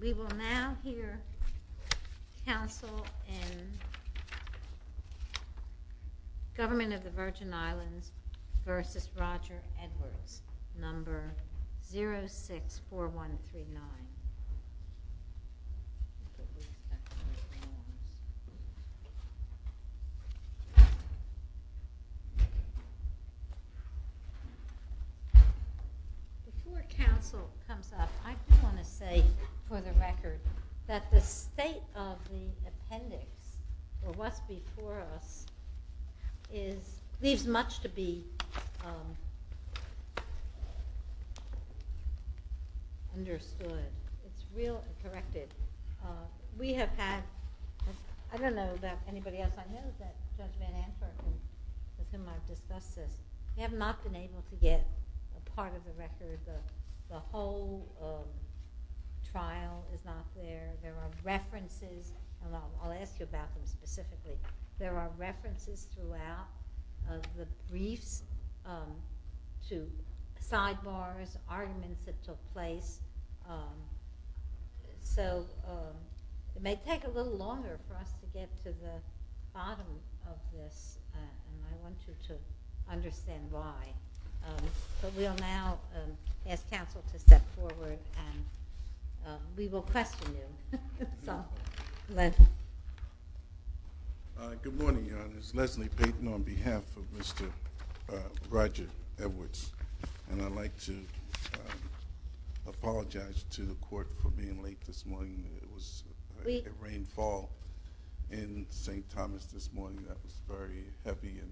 We will now hear counsel in Government of the Virgin Islands v. Roger Edwards, No. 064139. Before counsel comes up, I just want to say for the record that the state of the appendix, or what's before us, leaves much to be understood. It's real and corrective. We have had, I don't know about anybody else I know that's in my discussion, have not been able to get a part of the record, the whole trial is not there. There are references, I'll ask you about them specifically, there are references throughout of the briefs to sidebars, arguments that took place, so it may take a little longer for us to get to the bottom of this and I want you to understand why. We will now ask counsel to step forward and we will question him. Good morning, this is Leslie Payton on behalf of Mr. Roger Edwards and I'd like to apologize to the court for being late this morning. It was a rainfall in St. Thomas this morning that was very heavy and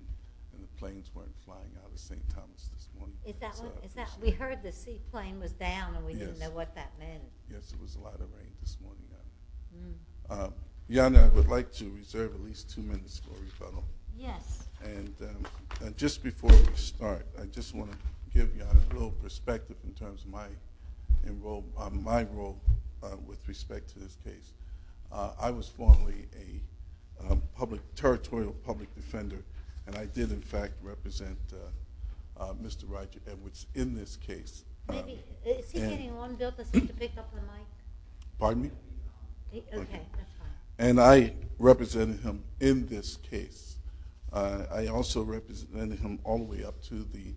the planes weren't flying out of St. Thomas this morning. We heard the sea plane was down and we didn't know what that meant. Just before we start, I just want to give you a little perspective in terms of my role with respect to this case. I was formerly a territorial public defender and I did in fact represent Mr. Roger Edwards in this case. And I represented him in this case. I also represented him all the way up to the,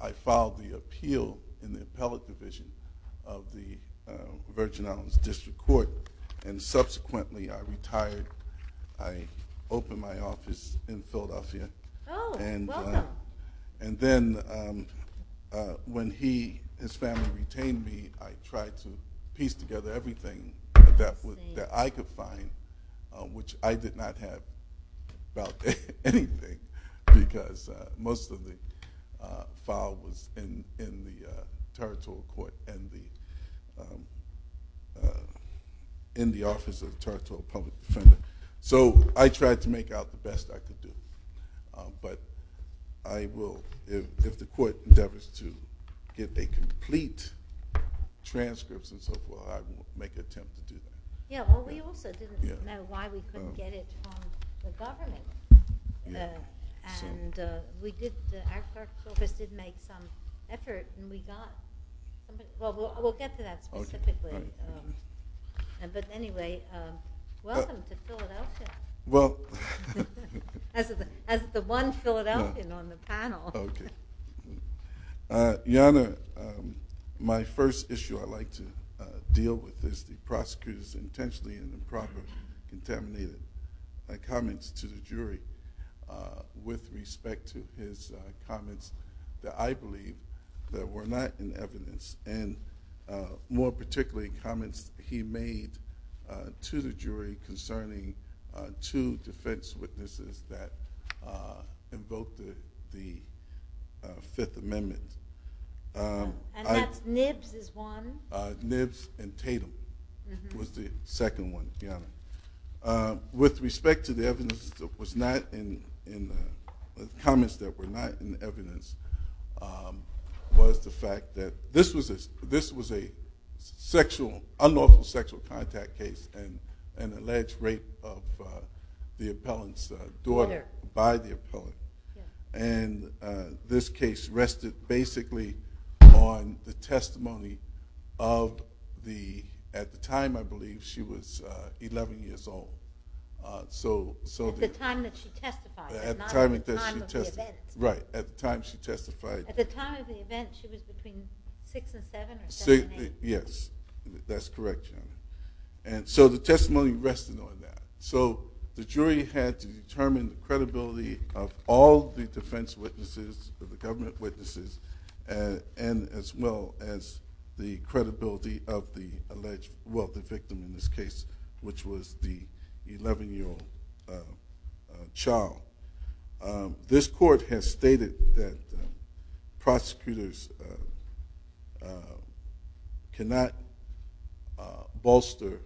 I filed the appeal in the appellate division of the Virgin Islands District Court and subsequently I retired, I opened my office in Philadelphia. And then when he and his family retained me, I tried to piece together everything that I could find, which I did not have anything because most of the files were in the territorial court and in the office of the territorial public defender. So I tried to make out the best I could do. But I will, if the court endeavors to get a complete transcript, I will make an attempt to do that. Yeah, well we also didn't know why we couldn't get it from the government. And we did, after COVID, did make some efforts and we got, well we'll get to that specifically. But anyway, welcome to Philadelphia. As the one Philadelphian on the panel. Okay. Your Honor, my first issue I'd like to deal with is the prosecutor's intentionally improper and contaminated comments to the jury with respect to his comments that I believe were not in evidence. And more particularly, comments he made to the jury concerning two defense witnesses that invoked the Fifth Amendment. And that's Nibs is one. Nibs and Tatum was the second one. With respect to the evidence that was not in, comments that were not in evidence, was the fact that this was a sexual, unlawful sexual contact case and alleged rape of the appellant's daughter by the appellant. And this case rested basically on the testimony of the, at the time I believe she was 11 years old. At the time that she testified, not at the time of the event. Right, at the time she testified. At the time of the event she was between 6 and 7. Yes, that's correct. And so the testimony rested on that. So the jury had to determine the credibility of all the defense witnesses, the government witnesses, and as well as the credibility of the alleged, well the victim in this case, which was the 11 year old child. This court has stated that prosecutors cannot bolster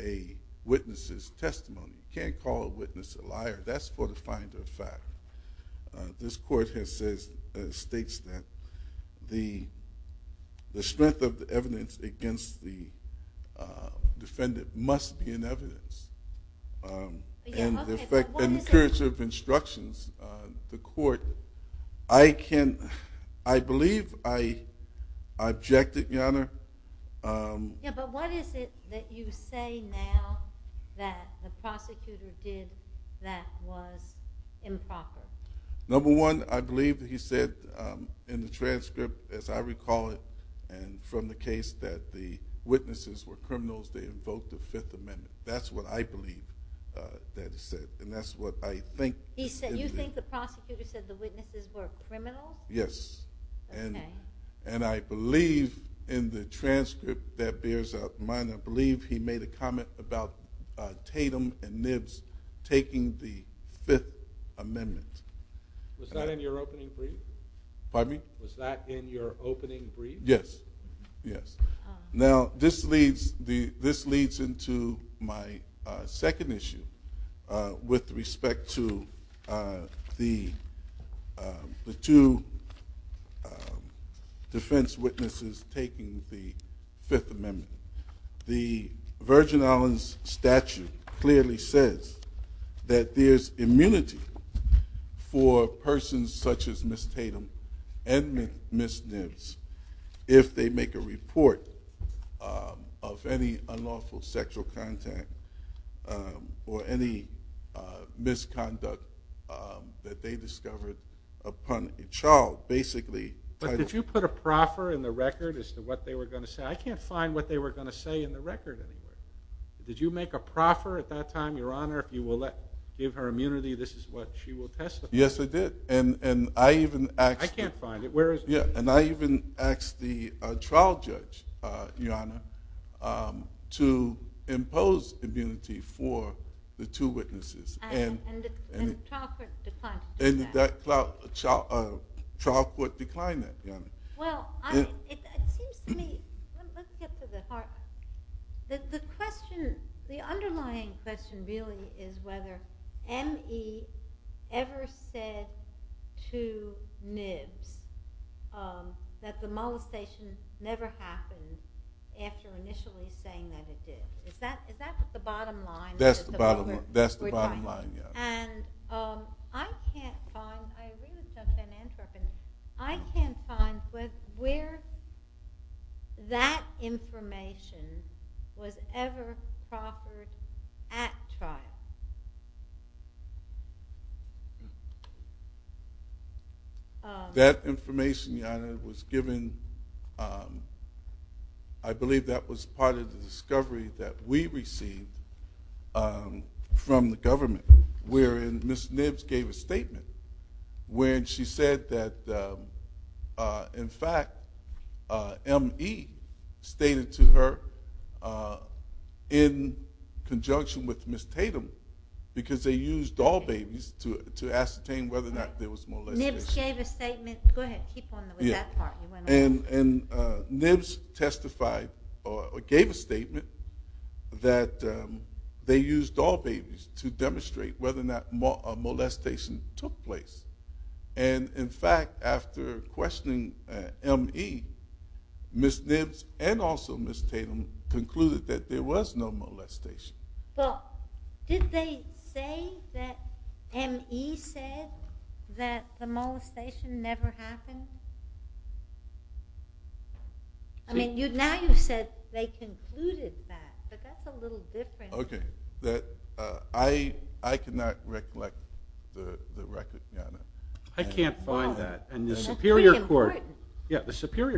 a witness's testimony. You can't call a witness a liar. That's what defines a fact. This court has stated that the strength of the evidence against the defendant must be in evidence. In the interest of instruction, the court, I can, I believe I object to it, your honor. Yeah, but what is it that you say now that the prosecutor did that was improper? Number one, I believe that he said in the transcript, as I recall it, and from the case that the witnesses were criminals, they invoked the Fifth Amendment. That's what I believe that he said, and that's what I think. He said, you think the prosecutor said the witnesses were criminals? Yes, and I believe in the transcript that bears up mine, I believe he made a comment about Tatum and Nibs taking the Fifth Amendment. Was that in your opening brief? Pardon me? Was that in your opening brief? Yes, yes. Now, this leads into my second issue with respect to the two defense witnesses taking the Fifth Amendment. The Virgin Islands statute clearly says that there's immunity for persons such as Ms. Tatum and Ms. Nibs if they make a report of any unlawful sexual contact or any misconduct that they discovered upon the child. But did you put a proffer in the record as to what they were going to say? I can't find what they were going to say in the record. Did you make a proffer at that time, Your Honor, if you will give her immunity, this is what she will testify? Yes, I did, and I even asked the trial judge, Your Honor, to impose immunity for the two witnesses. And the trial court declined to do that. The underlying question really is whether M.E. ever said to Nibs that the molestation never happened after initially saying that it did. Is that the bottom line? That's the bottom line, yes. And I can't find where that information was ever proffered at trial. That information, Your Honor, was given, I believe that was part of the discovery that we received from the government, wherein Ms. Nibs gave a statement wherein she said that, in fact, M.E. stated to her in conjunction with Ms. Tatum, because they used all babies to ascertain whether or not there was molestation. Nibs gave a statement, go ahead, keep going with that part. And Nibs testified or gave a statement that they used all babies to demonstrate whether or not molestation took place. And, in fact, after questioning M.E., Ms. Nibs and also Ms. Tatum concluded that there was no molestation. Well, did they say that M.E. said that the molestation never happened? I mean, now you said they concluded that, but that's a little different. Okay, I cannot recollect the record, Your Honor. I can't find that. And the Superior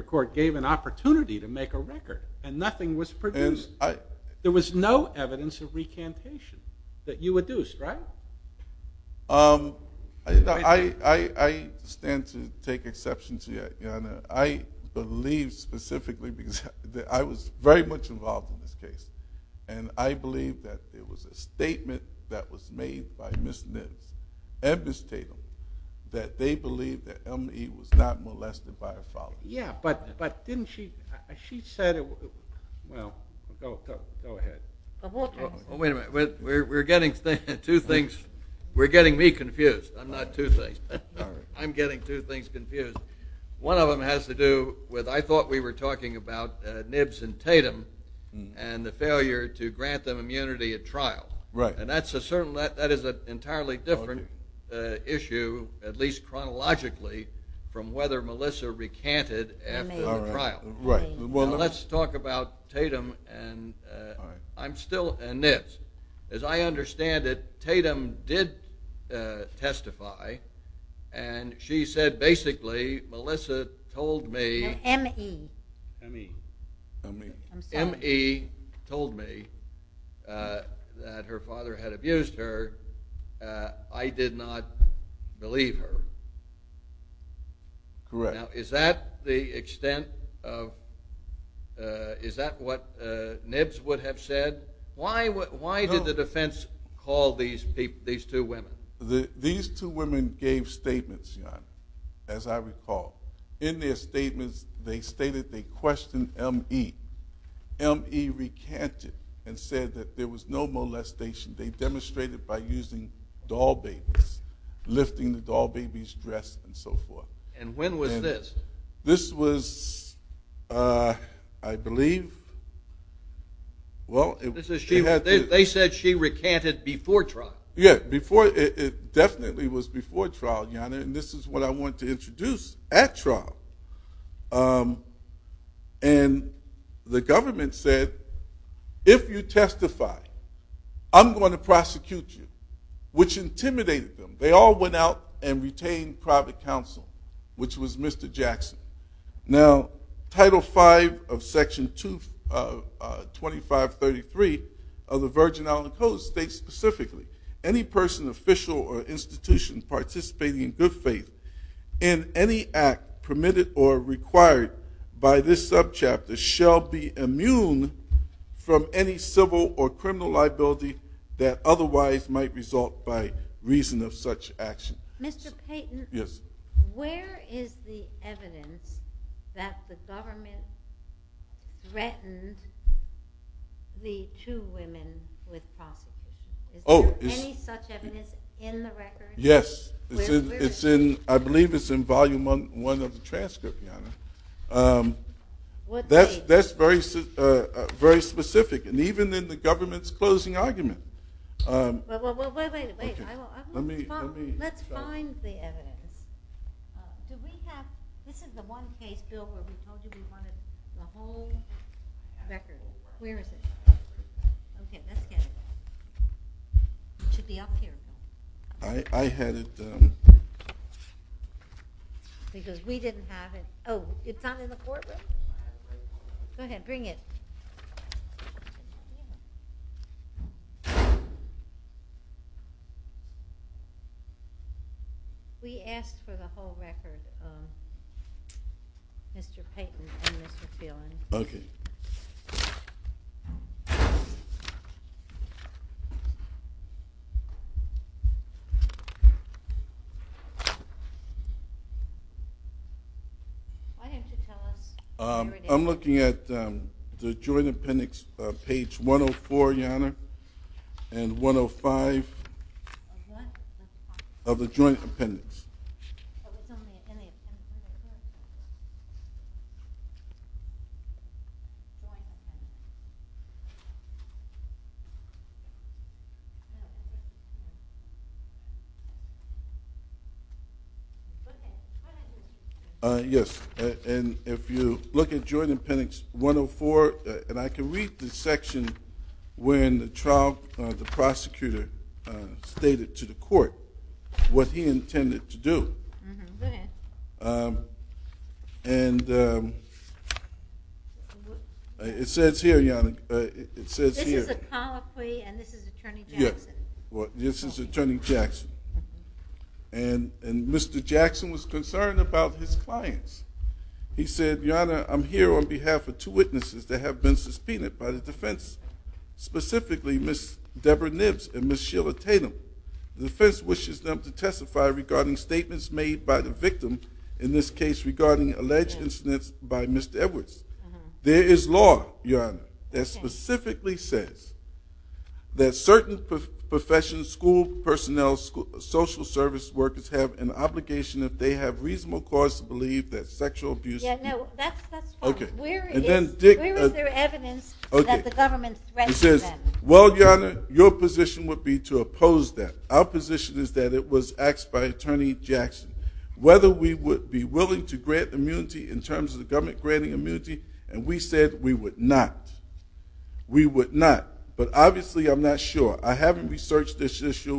Court gave an opportunity to make a record, and nothing was produced. There was no evidence of recantation that you reduced, right? I stand to take exception to that, Your Honor. I believe specifically that I was very much involved in this case, and I believe that there was a statement that was made by Ms. Nibs and Ms. Tatum that they believed that M.E. was not molested by her father. Yeah, but didn't she – she said – well, go ahead. Wait a minute. We're getting two things – we're getting me confused. I'm not two things. I'm getting two things confused. One of them has to do with I thought we were talking about Nibs and Tatum and the failure to grant them immunity at trial. Right. And that's a certain – that is an entirely different issue, at least chronologically, from whether Melissa recanted after the trial. Right. Well, let's talk about Tatum and Nibs. As I understand it, Tatum did testify, and she said basically Melissa told me – M.E. M.E. M.E. M.E. told me that her father had abused her. I did not believe her. Correct. Now, is that the extent of – is that what Nibs would have said? Why did the defense call these two women? These two women gave statements, as I recall. In their statements, they stated they questioned M.E. M.E. recanted and said that there was no molestation. They demonstrated by using doll babies, lifting the doll babies dressed and so forth. And when was this? This was, I believe – well, it was – They said she recanted before trial. Yes, before – it definitely was before trial, Jana, and this is what I want to introduce at trial. And the government said, if you testify, I'm going to prosecute you, which intimidated them. They all went out and retained private counsel, which was Mr. Jackson. Now, Title V of Section 2533 of the Virgin Island Code states specifically, any person, official, or institution participating in good faith in any act permitted or required by this subchapter shall be immune from any civil or criminal liability that otherwise might result by reason of such action. Mr. Payton, where is the evidence that the government threatened the two women with prostitution? Is there any such evidence in the record? Yes, it's in – I believe it's in Volume 1 of the transcript, Jana. That's very specific, and even in the government's closing argument. Well, wait, wait, wait. Let's find the evidence. Did we have – this is the one case, Bill, where we told you we wanted the whole record. Where is it? Okay, let's get it. It should be up here. I had it – Because we didn't have it. Oh, it's not in the courtroom. Go ahead, bring it. We asked for the whole record, Mr. Payton and Mr. Phelan. Okay. I'm looking at the Joint Appendix, page 104, Jana, and 105 of the Joint Appendix. That was on the appendix. Yes, and if you look at Joint Appendix 104 – and I can read the section where in the trial the prosecutor stated to the court what he intended to do. Go ahead. And it says here, Jana, it says here – This is a colloquy, and this is Attorney Jackson. This is Attorney Jackson. And Mr. Jackson was concerned about his clients. He said, Jana, I'm here on behalf of two witnesses that have been suspended by the defense, specifically Ms. Deborah Nibbs and Ms. Sheila Tatum. The defense wishes them to testify regarding statements made by the victims, in this case regarding alleged incidents by Mr. Edwards. There is law, Jana, that specifically says that certain professions, school personnel, social service workers have an obligation if they have reasonable cause to believe that sexual abuse – Yes, that's the point. Where is there evidence that the government threatened them? Well, Jana, your position would be to oppose that. Our position is that it was asked by Attorney Jackson whether we would be willing to grant immunity in terms of the government granting immunity, and we said we would not. We would not. But obviously I'm not sure. I haven't researched this issue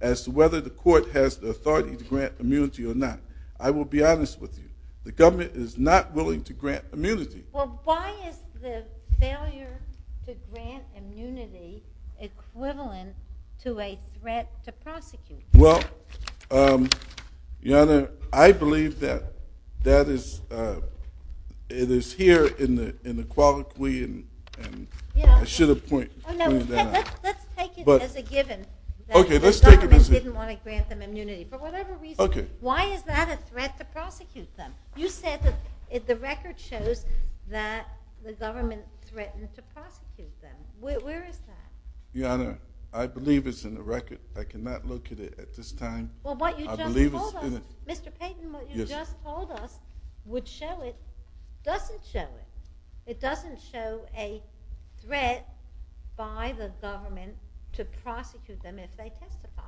as to whether the court has the authority to grant immunity or not. I will be honest with you. The government is not willing to grant immunity. Well, why is the failure to grant immunity equivalent to a threat to prosecution? Well, Jana, I believe that it is here in the quality. I should have pointed that out. Let's take it as a given that the government didn't want to grant them immunity for whatever reason. Why is that a threat to prosecution? You said that the record shows that the government threatened to prosecute them. Where is that? Jana, I believe it's in the record. I cannot look at it at this time. Well, what you just told us, Mr. Payton, what you just told us would show it. It doesn't show it. It doesn't show a threat by the government to prosecute them if they testify.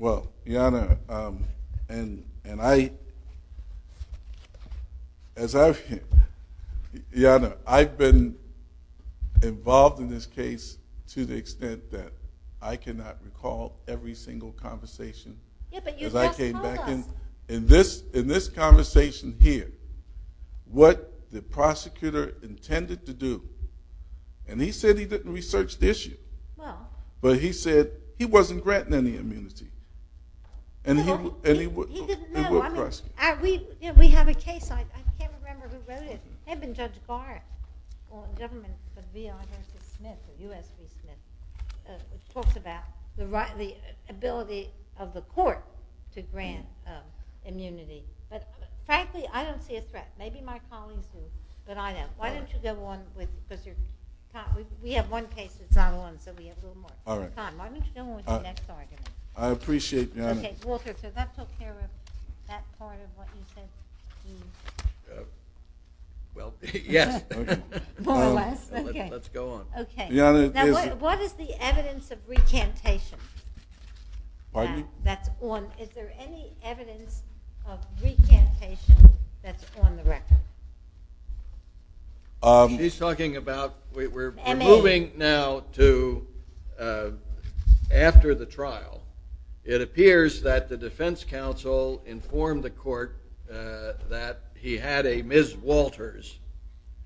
Well, Jana, I've been involved in this case to the extent that I cannot recall every single conversation. In this conversation here, what the prosecutor intended to do, and he said he didn't research the issue, but he said he wasn't granting any immunity. He didn't know. We have a case. I can't remember who wrote it. It had been Judge Barrett or the government, the U.S.C. Smith. The ability of the court to grant immunity. But, frankly, I don't see a threat. Maybe my colleagues do, but I don't. Why don't you go on with this? We have one case that's not on, so we have a little more time. Why don't you go on with the next argument? I appreciate that. Okay. Walter, does that take care of that part of what you said? Well, yes. More or less? Okay. Let's go on. Okay. Now, what is the evidence of recantation? Pardon? Is there any evidence of recantation that's on the record? He's talking about we're moving now to after the trial. It appears that the defense counsel informed the court that he had a Ms. Walters.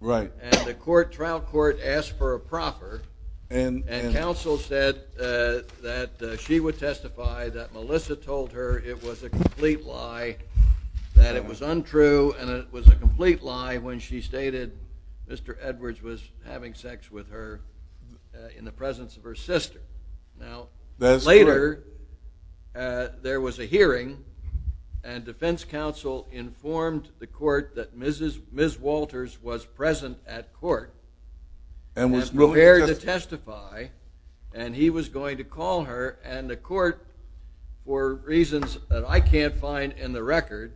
Right. And the trial court asked for a proper, and counsel said that she would testify that Melissa told her it was a complete lie, that it was untrue, and it was a complete lie when she stated Mr. Edwards was having sex with her in the presence of her sister. Now, later there was a hearing, and defense counsel informed the court that Ms. Walters was present at court and was prepared to testify, and he was going to call her, and the court, for reasons that I can't find in the record,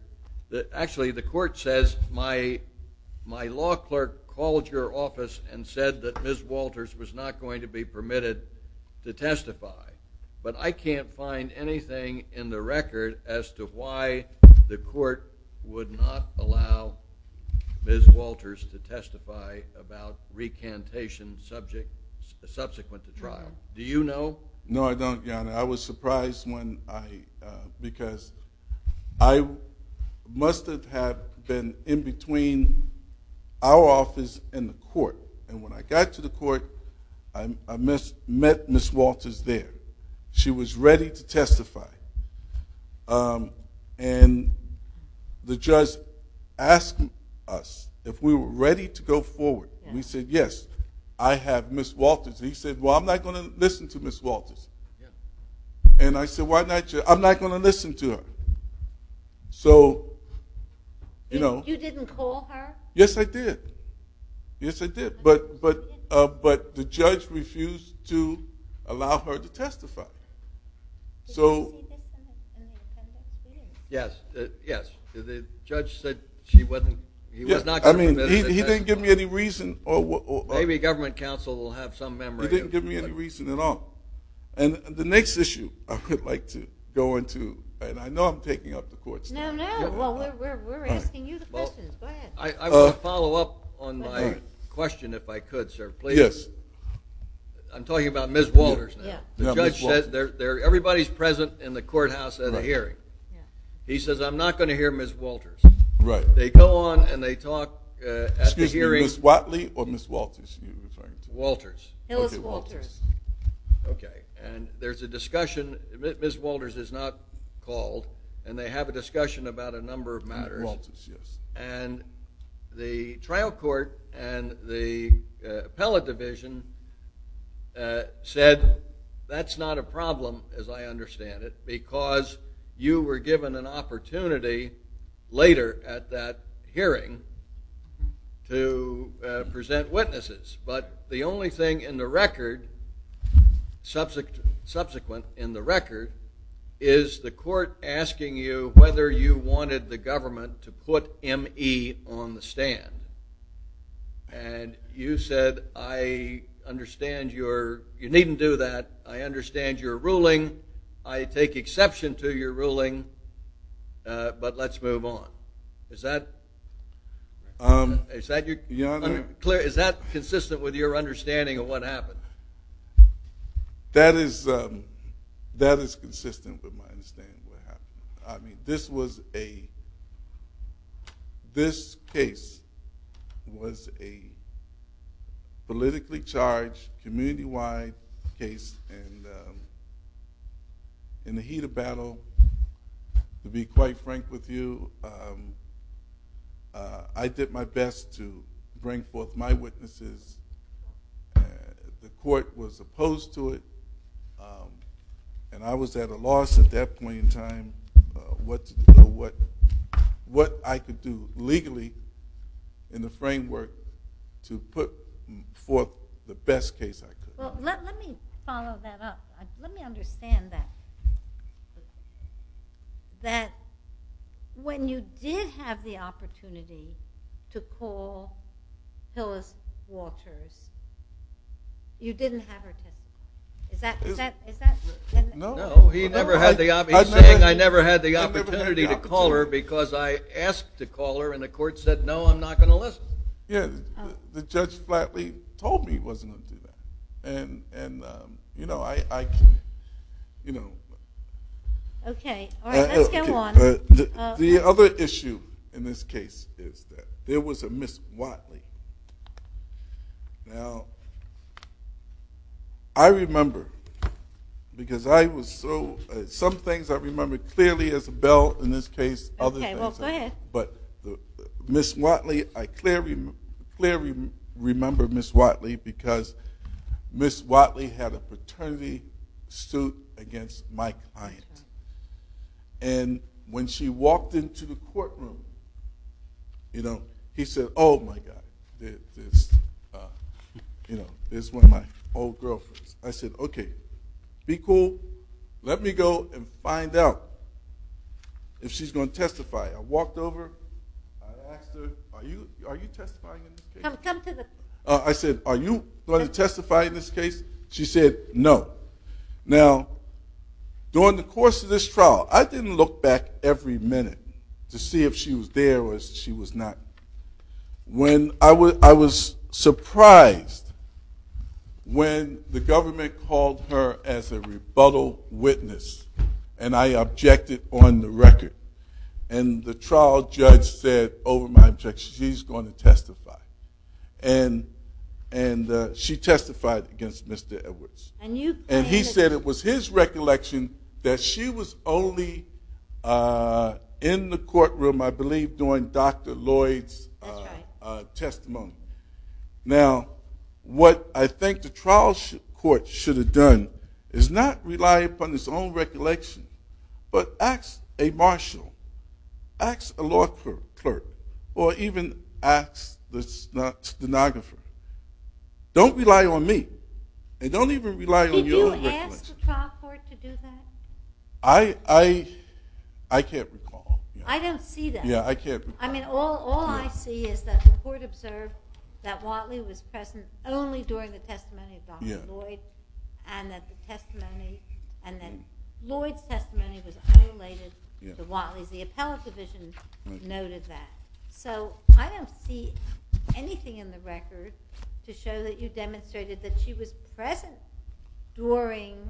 actually the court says my law clerk called your office and said that Ms. Walters was not going to be permitted to testify. But I can't find anything in the record as to why the court would not allow Ms. Walters to testify about recantation subject, subsequent to trial. Do you know? No, I don't, Your Honor. And I was surprised when I, because I must have had been in between our office and the court, and when I got to the court, I met Ms. Walters there. She was ready to testify, and the judge asked us if we were ready to go forward, and we said yes. I have Ms. Walters, and he said, well, I'm not going to listen to Ms. Walters. And I said, why not you? I'm not going to listen to her. So, you know. You didn't call her? Yes, I did. Yes, I did, but the judge refused to allow her to testify. So. Yes, yes, the judge said she wasn't, he was not going to let her testify. He didn't give me any reason. Maybe government counsel will have some memorandum. He didn't give me any reason at all. And the next issue I would like to go into, and I know I'm taking up the court's time. No, no, we're asking you the questions. Go ahead. I want to follow up on my question, if I could, sir, please. Yes. I'm talking about Ms. Walters now. The judge said everybody's present in the courthouse at a hearing. He says, I'm not going to hear Ms. Walters. Right. They go on and they talk at the hearing. Excuse me, Ms. Watley or Ms. Walters? Walters. It was Walters. Okay. And there's a discussion. Ms. Walters is not called. And they have a discussion about a number of matters. Ms. Walters, yes. And the trial court and the appellate division said that's not a problem, as I understand it, because you were given an opportunity later at that hearing to present witnesses. But the only thing in the record, subsequent in the record, is the court asking you whether you wanted the government to put M.E. on the stand. And you said, I understand you needn't do that. I understand your ruling. I take exception to your ruling, but let's move on. Is that clear? Is that consistent with your understanding of what happened? That is consistent with my understanding of what happened. This case was a politically charged, community-wide case, and in the heat of battle, to be quite frank with you, I did my best to bring forth my witnesses. The court was opposed to it, and I was at a loss at that point in time what I could do legally in the framework to put forth the best case I could. Well, let me follow that up. Let me understand that. That when you did have the opportunity to call Phyllis Walters, you didn't have her testimony. Is that true? No, he never had the opportunity. I never had the opportunity to call her because I asked to call her, and the court said, no, I'm not going to listen. Yes, the judge flatly told me he wasn't going to do that. And, you know, I can't, you know. Okay, all right, let's move on. The other issue in this case is that there was a Ms. Watley. Now, I remember because I was so, some things I remember clearly as Bell, in this case, but Ms. Watley, I clearly remember Ms. Watley because Ms. Watley had a fraternity suit against my client. And when she walked into the courtroom, you know, he said, oh, my God, you know, this is one of my old girlfriends. I said, okay, be cool, let me go and find out if she's going to testify. I walked over, I asked her, are you testifying in this case? I said, are you going to testify in this case? She said, no. Now, during the course of this trial, I didn't look back every minute to see if she was there or if she was not. I was surprised when the government called her as a rebuttal witness, and I objected on the record. And the trial judge said, over my objection, she's going to testify. And she testified against Mr. Edwards. And he said it was his recollection that she was only in the courtroom, I believe, during Dr. Lloyd's testimony. Now, what I think the trial court should have done is not rely upon its own recollection, but ask a marshal, ask a law clerk, or even ask the stenographer. Don't rely on me. And don't even rely on your recollection. Did you ask the trial court to do that? I can't recall. I don't see that. Yeah, I can't recall. I mean, all I see is that the court observed that Watley was present only during the testimony of Dr. Lloyd and that the testimony and that Lloyd's testimony was unrelated to Watley's. The appellate division noted that. So I don't see anything in the record to show that you demonstrated that she was present during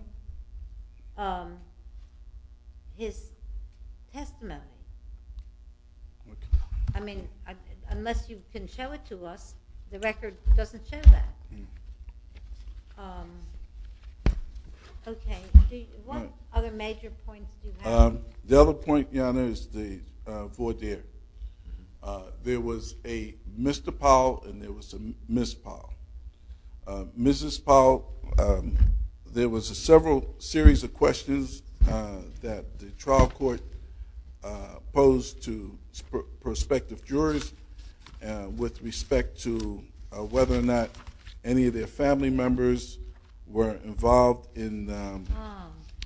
his testimony. I mean, unless you can show it to us, the record doesn't show that. Okay. What other major points do you have? The other point, Your Honor, is the voir dire. There was a Mr. Powell and there was a Ms. Powell. Mrs. Powell, there was a several series of questions that the trial court posed to prospective jurors with respect to whether or not any of their family members were involved in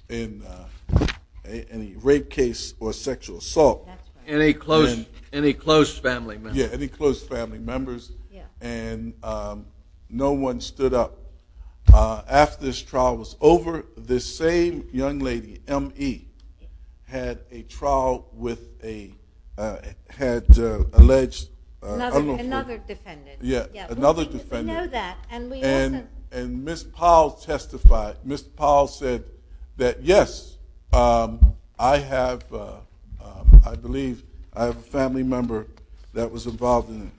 any rape case or sexual assault. That's right. Any close family members. Yeah, any close family members. And no one stood up. After this trial was over, this same young lady, M.E., had a trial with a had alleged unlawful. Another defendant. Yeah, another defendant. We know that. And Ms. Powell testified. Ms. Powell said that, yes, I have, I believe, I have a family member that was involved in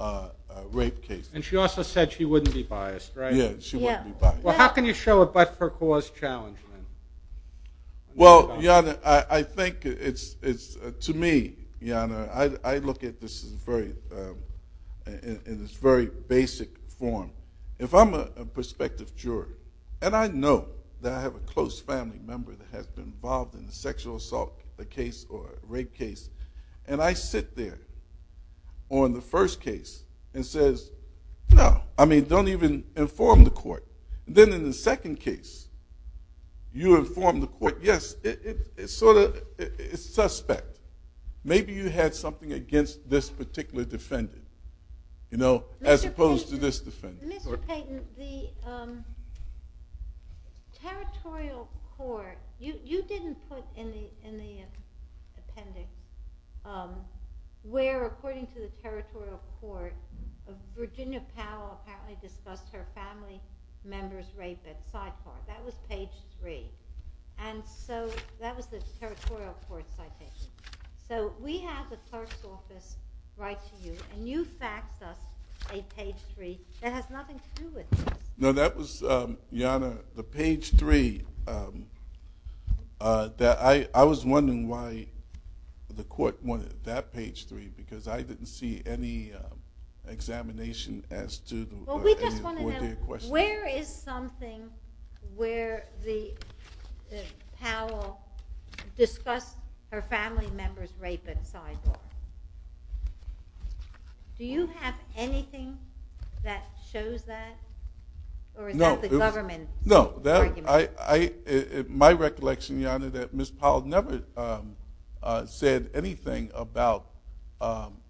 a rape case. And she also said she wouldn't be biased, right? Yeah, she wouldn't be biased. Well, how can you show a but-for-cause challenge? Well, Your Honor, I think it's, to me, Your Honor, I look at this in this very basic form. If I'm a prospective juror, and I know that I have a close family member that has been involved in a sexual assault case or a rape case, and I sit there on the first case and says, no, I mean, don't even inform the court. Then in the second case, you inform the court, yes, it's sort of suspect. Maybe you had something against this particular defendant, you know, as opposed to this defendant. Mr. Payton, the territorial court, you didn't put in the appendix where according to the territorial court, Virginia Powell apparently discussed her family member's rape at side court. That was page three. And so that was a territorial court citation. So we have the clerk's office write to you, and you faxed us a page three that has nothing to do with this. No, that was, Your Honor, the page three. I was wondering why the court wanted that page three because I didn't see any examination as to the court's question. Where is something where Powell discussed her family member's rape at side court? Do you have anything that shows that? Or is that the government's argument? No, my recollection, Your Honor, that Ms. Powell never said anything about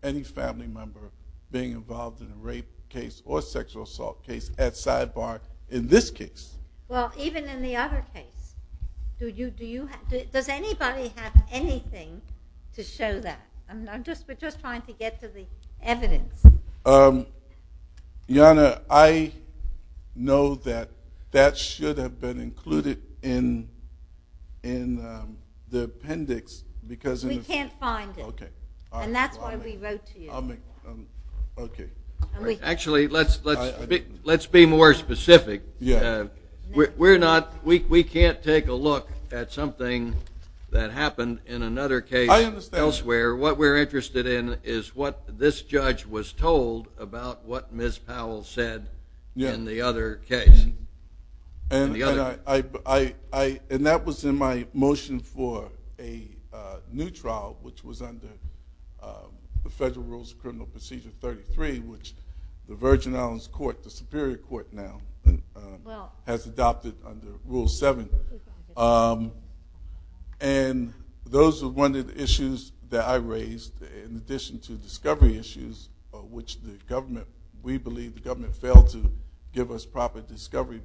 any family member being involved in a rape case or sexual assault case at side bar in this case. Well, even in the other case. Does anybody have anything to show that? We're just trying to get to the evidence. Your Honor, I know that that should have been included in the appendix. We can't find it. And that's why we wrote to you. Actually, let's be more specific. We can't take a look at something that happened in another case elsewhere. What we're interested in is what this judge was told about what Ms. Powell said in the other case. And that was in my motion for a new trial, which was under the Federal Rules of Criminal Procedure 33, which the Virgin Islands Superior Court now has adopted under Rule 7. And those were one of the issues that I raised, in addition to discovery issues, which we believe the government failed to give us proper discovery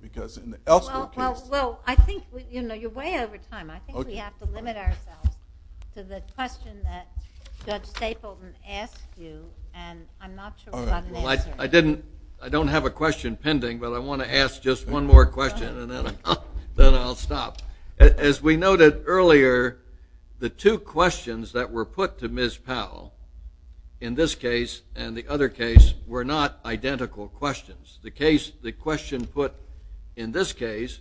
Well, I think you're way over time. I think we have to limit ourselves to the question that Judge Stapleton asked you, and I'm not sure what I'm answering. I don't have a question pending, but I want to ask just one more question, and then I'll stop. As we noted earlier, the two questions that were put to Ms. Powell in this case and the other case were not identical questions. The question put in this case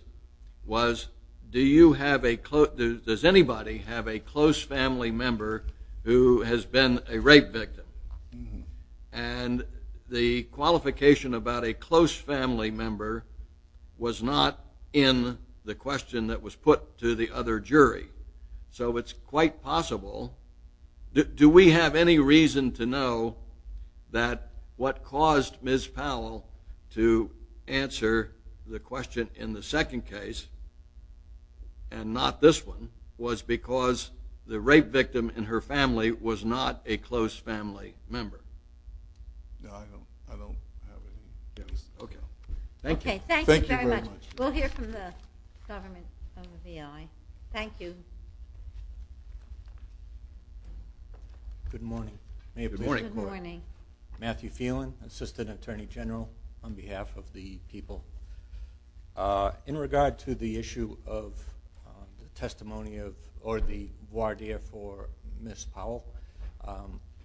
was, does anybody have a close family member who has been a rape victim? And the qualification about a close family member was not in the question that was put to the other jury. So it's quite possible. Do we have any reason to know that what caused Ms. Powell to answer the question in the second case, and not this one, was because the rape victim in her family was not a close family member? No, I don't know. Okay. Thank you. Thank you very much. We'll hear from the government on the VI. Thank you. Good morning. Good morning. Matthew Phelan, Assistant Attorney General, on behalf of the people. In regard to the issue of testimony or the voir dire for Ms. Powell,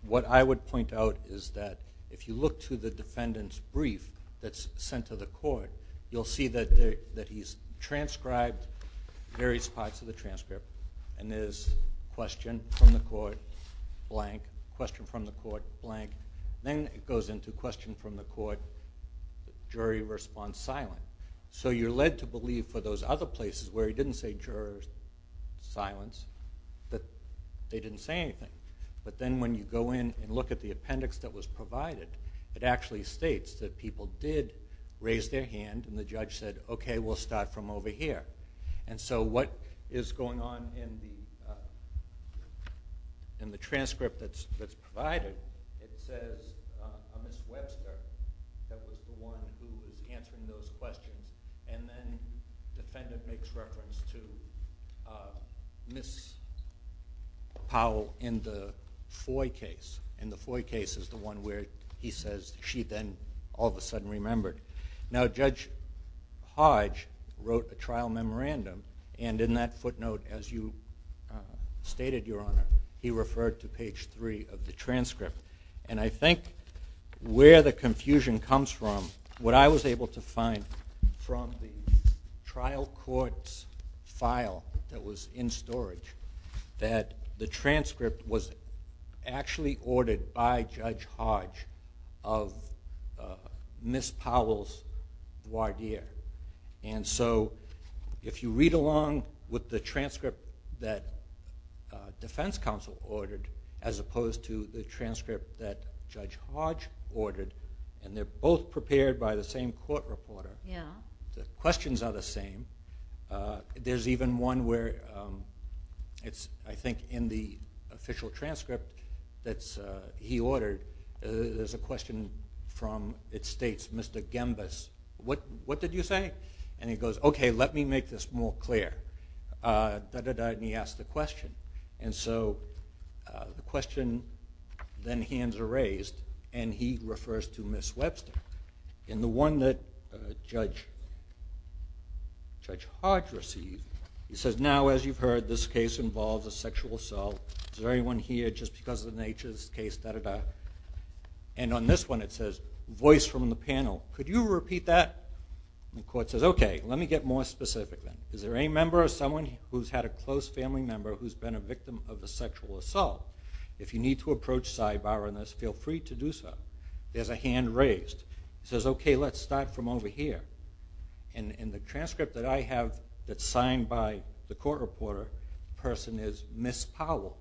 what I would point out is that if you look to the defendant's brief that's sent to the court, you'll see that he's transcribed various parts of the transcript, and there's question from the court, blank, question from the court, blank. Then it goes into question from the court, jury response, silent. So you're led to believe for those other places where he didn't say jurors, silence, that they didn't say anything. But then when you go in and look at the appendix that was provided, it actually states that people did raise their hand and the judge said, okay, we'll start from over here. And so what is going on in the transcript that's provided, it says a Ms. Webster that was the one who was answering those questions, and then the defendant makes reference to Ms. Powell in the Foy case, and the Foy case is the one where he says she then all of a sudden remembered. Now Judge Hodge wrote a trial memorandum, and in that footnote as you stated, Your Honor, he referred to page three of the transcript. And I think where the confusion comes from, what I was able to find from the trial court's file that was in storage, that the transcript was actually ordered by Judge Hodge of Ms. Powell's lawyer. And so if you read along with the transcript that defense counsel ordered as opposed to the transcript that Judge Hodge ordered, and they're both prepared by the same court reporter. The questions are the same. There's even one where I think in the official transcript that he ordered, there's a question from, it states, Mr. Gimbus, what did you say? And he goes, okay, let me make this more clear. Da-da-da, and he asks the question. And so the question, then hands are raised, and he refers to Ms. Webster. And the one that Judge Hodge received, he says, now as you've heard this case involves a sexual assault. Is there anyone here just because of the nature of this case, da-da-da? And on this one it says, voice from the panel, could you repeat that? And the court says, okay, let me get more specific. Is there any member or someone who's had a close family member who's been a victim of a sexual assault? If you need to approach sidebar on this, feel free to do so. There's a hand raised. It says, okay, let's start from over here. And the transcript that I have that's signed by the court reporter person is Ms. Powell.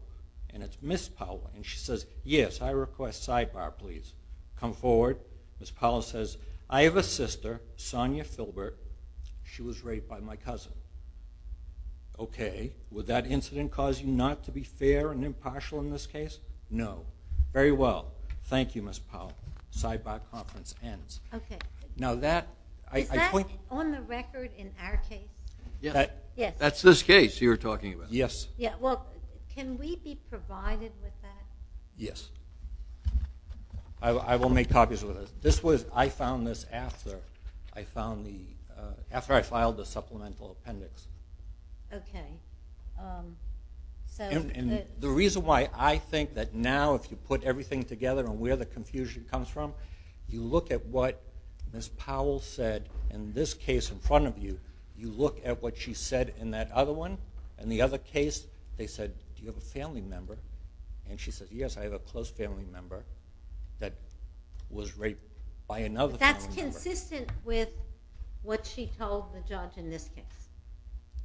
And it's Ms. Powell, and she says, yes, I request sidebar, please. Come forward. Ms. Powell says, I have a sister, Sonia Filbert. She was raped by my cousin. Okay, would that incident cause you not to be fair and impartial in this case? No. Very well. Thank you, Ms. Powell. Sidebar conference ends. Is that on the record in our case? That's this case you're talking about. Yes. Well, can we be provided with that? Yes. I will make copies of it. I found this after I filed the supplemental appendix. Okay. The reason why I think that now if you put everything together and where the confusion comes from, you look at what Ms. Powell said in this case in front of you. You look at what she said in that other one. In the other case, they said, do you have a family member? And she said, yes, I have a close family member that was raped by another family member. That's consistent with what she told the judge in this case?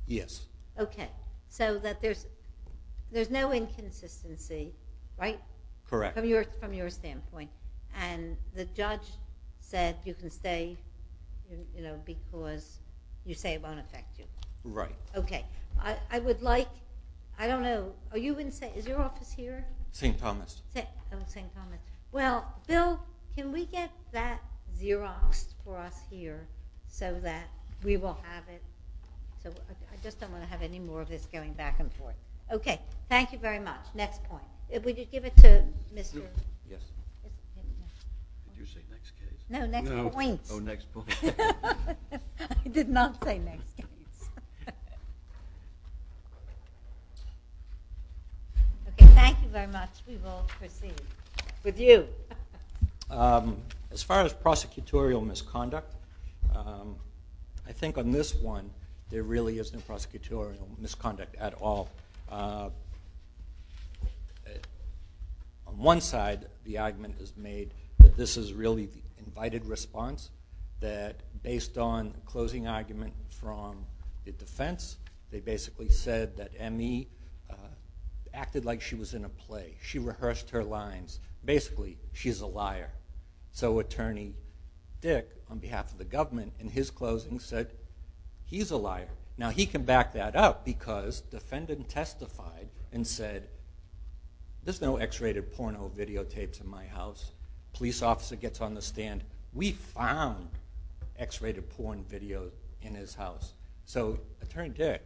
Yes. Okay, so that there's no inconsistency, right? Correct. From your standpoint. And the judge said you can stay because you say it's unaffected. Right. Okay. I would like, I don't know, are you going to say, is your office here? St. Thomas. St. Thomas. Well, Bill, can we get that Xerox for us here so that we will have it? I just don't want to have any more of this going back and forth. Okay. Thank you very much. Next point. Would you give it to Mr. Yes. Did you say next point? No, next point. Oh, next point. I did not say next point. Okay, thank you very much. We will proceed with you. As far as prosecutorial misconduct, I think on this one, there really isn't prosecutorial misconduct at all. On one side, the argument is made that this is really an invited response, that based on the closing argument from the defense, they basically said that Emmy acted like she was in a play. She rehearsed her lines. Basically, she's a liar. So Attorney Dick, on behalf of the government, in his closing said, he's a liar. Now, he can back that up because the defendant testified and said, there's no X-rated porno videotapes in my house. The police officer gets on the stand. We found X-rated porn videos in his house. So Attorney Dick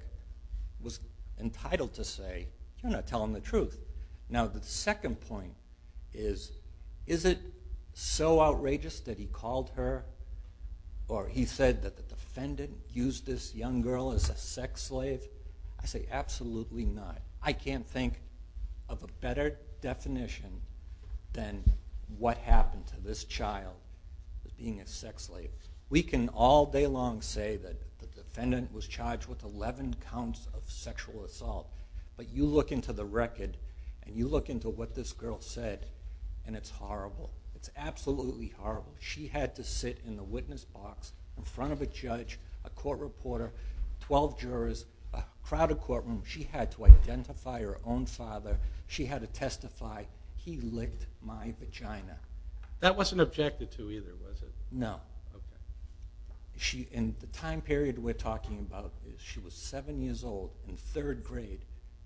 was entitled to say, I'm going to tell them the truth. Now, the second point is, is it so outrageous that he called her or he said that the defendant used this young girl as a sex slave? I say, absolutely not. I can't think of a better definition than what happened to this child being a sex slave. We can all day long say that the defendant was charged with 11 counts of sexual assault. But you look into the record, and you look into what this girl said, and it's horrible. It's absolutely horrible. She had to sit in the witness box in front of a judge, a court reporter, 12 jurors, a crowded courtroom. She had to identify her own father. She had to testify, he licked my vagina. That wasn't objected to either, was it? No. In the time period we're talking about, she was seven years old in third grade.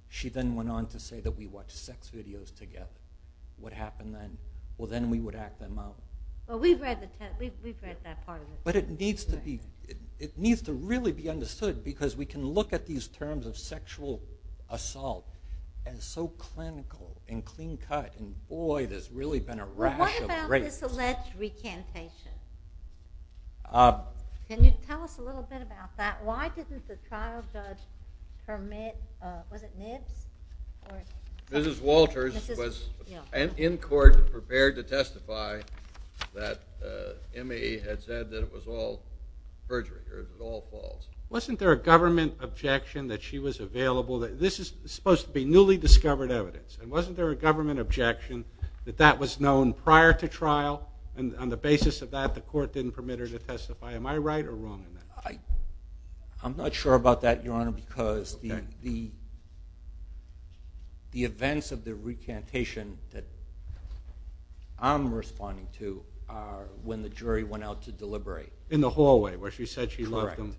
She then went on to say that we watched sex videos together. What happened then? Well, then we would have them up. Well, we've read that part of it. But it needs to really be understood because we can look at these terms of sexual assault and so clinical and clean cut, and boy, there's really been a rash of threats. What about this alleged recantation? Can you tell us a little bit about that? Why doesn't the child judge permit, was it NIST? Mrs. Walters was in court prepared to testify that Emmy had said that it was all perjury, it was all false. Wasn't there a government objection that she was available? This is supposed to be newly discovered evidence. Wasn't there a government objection that that was known prior to trial? And on the basis of that, the court didn't permit her to testify. Am I right or wrong? I'm not sure about that, Your Honor, because the events of the recantation that I'm responding to are when the jury went out to deliberate. In the hallway where she said she loved him.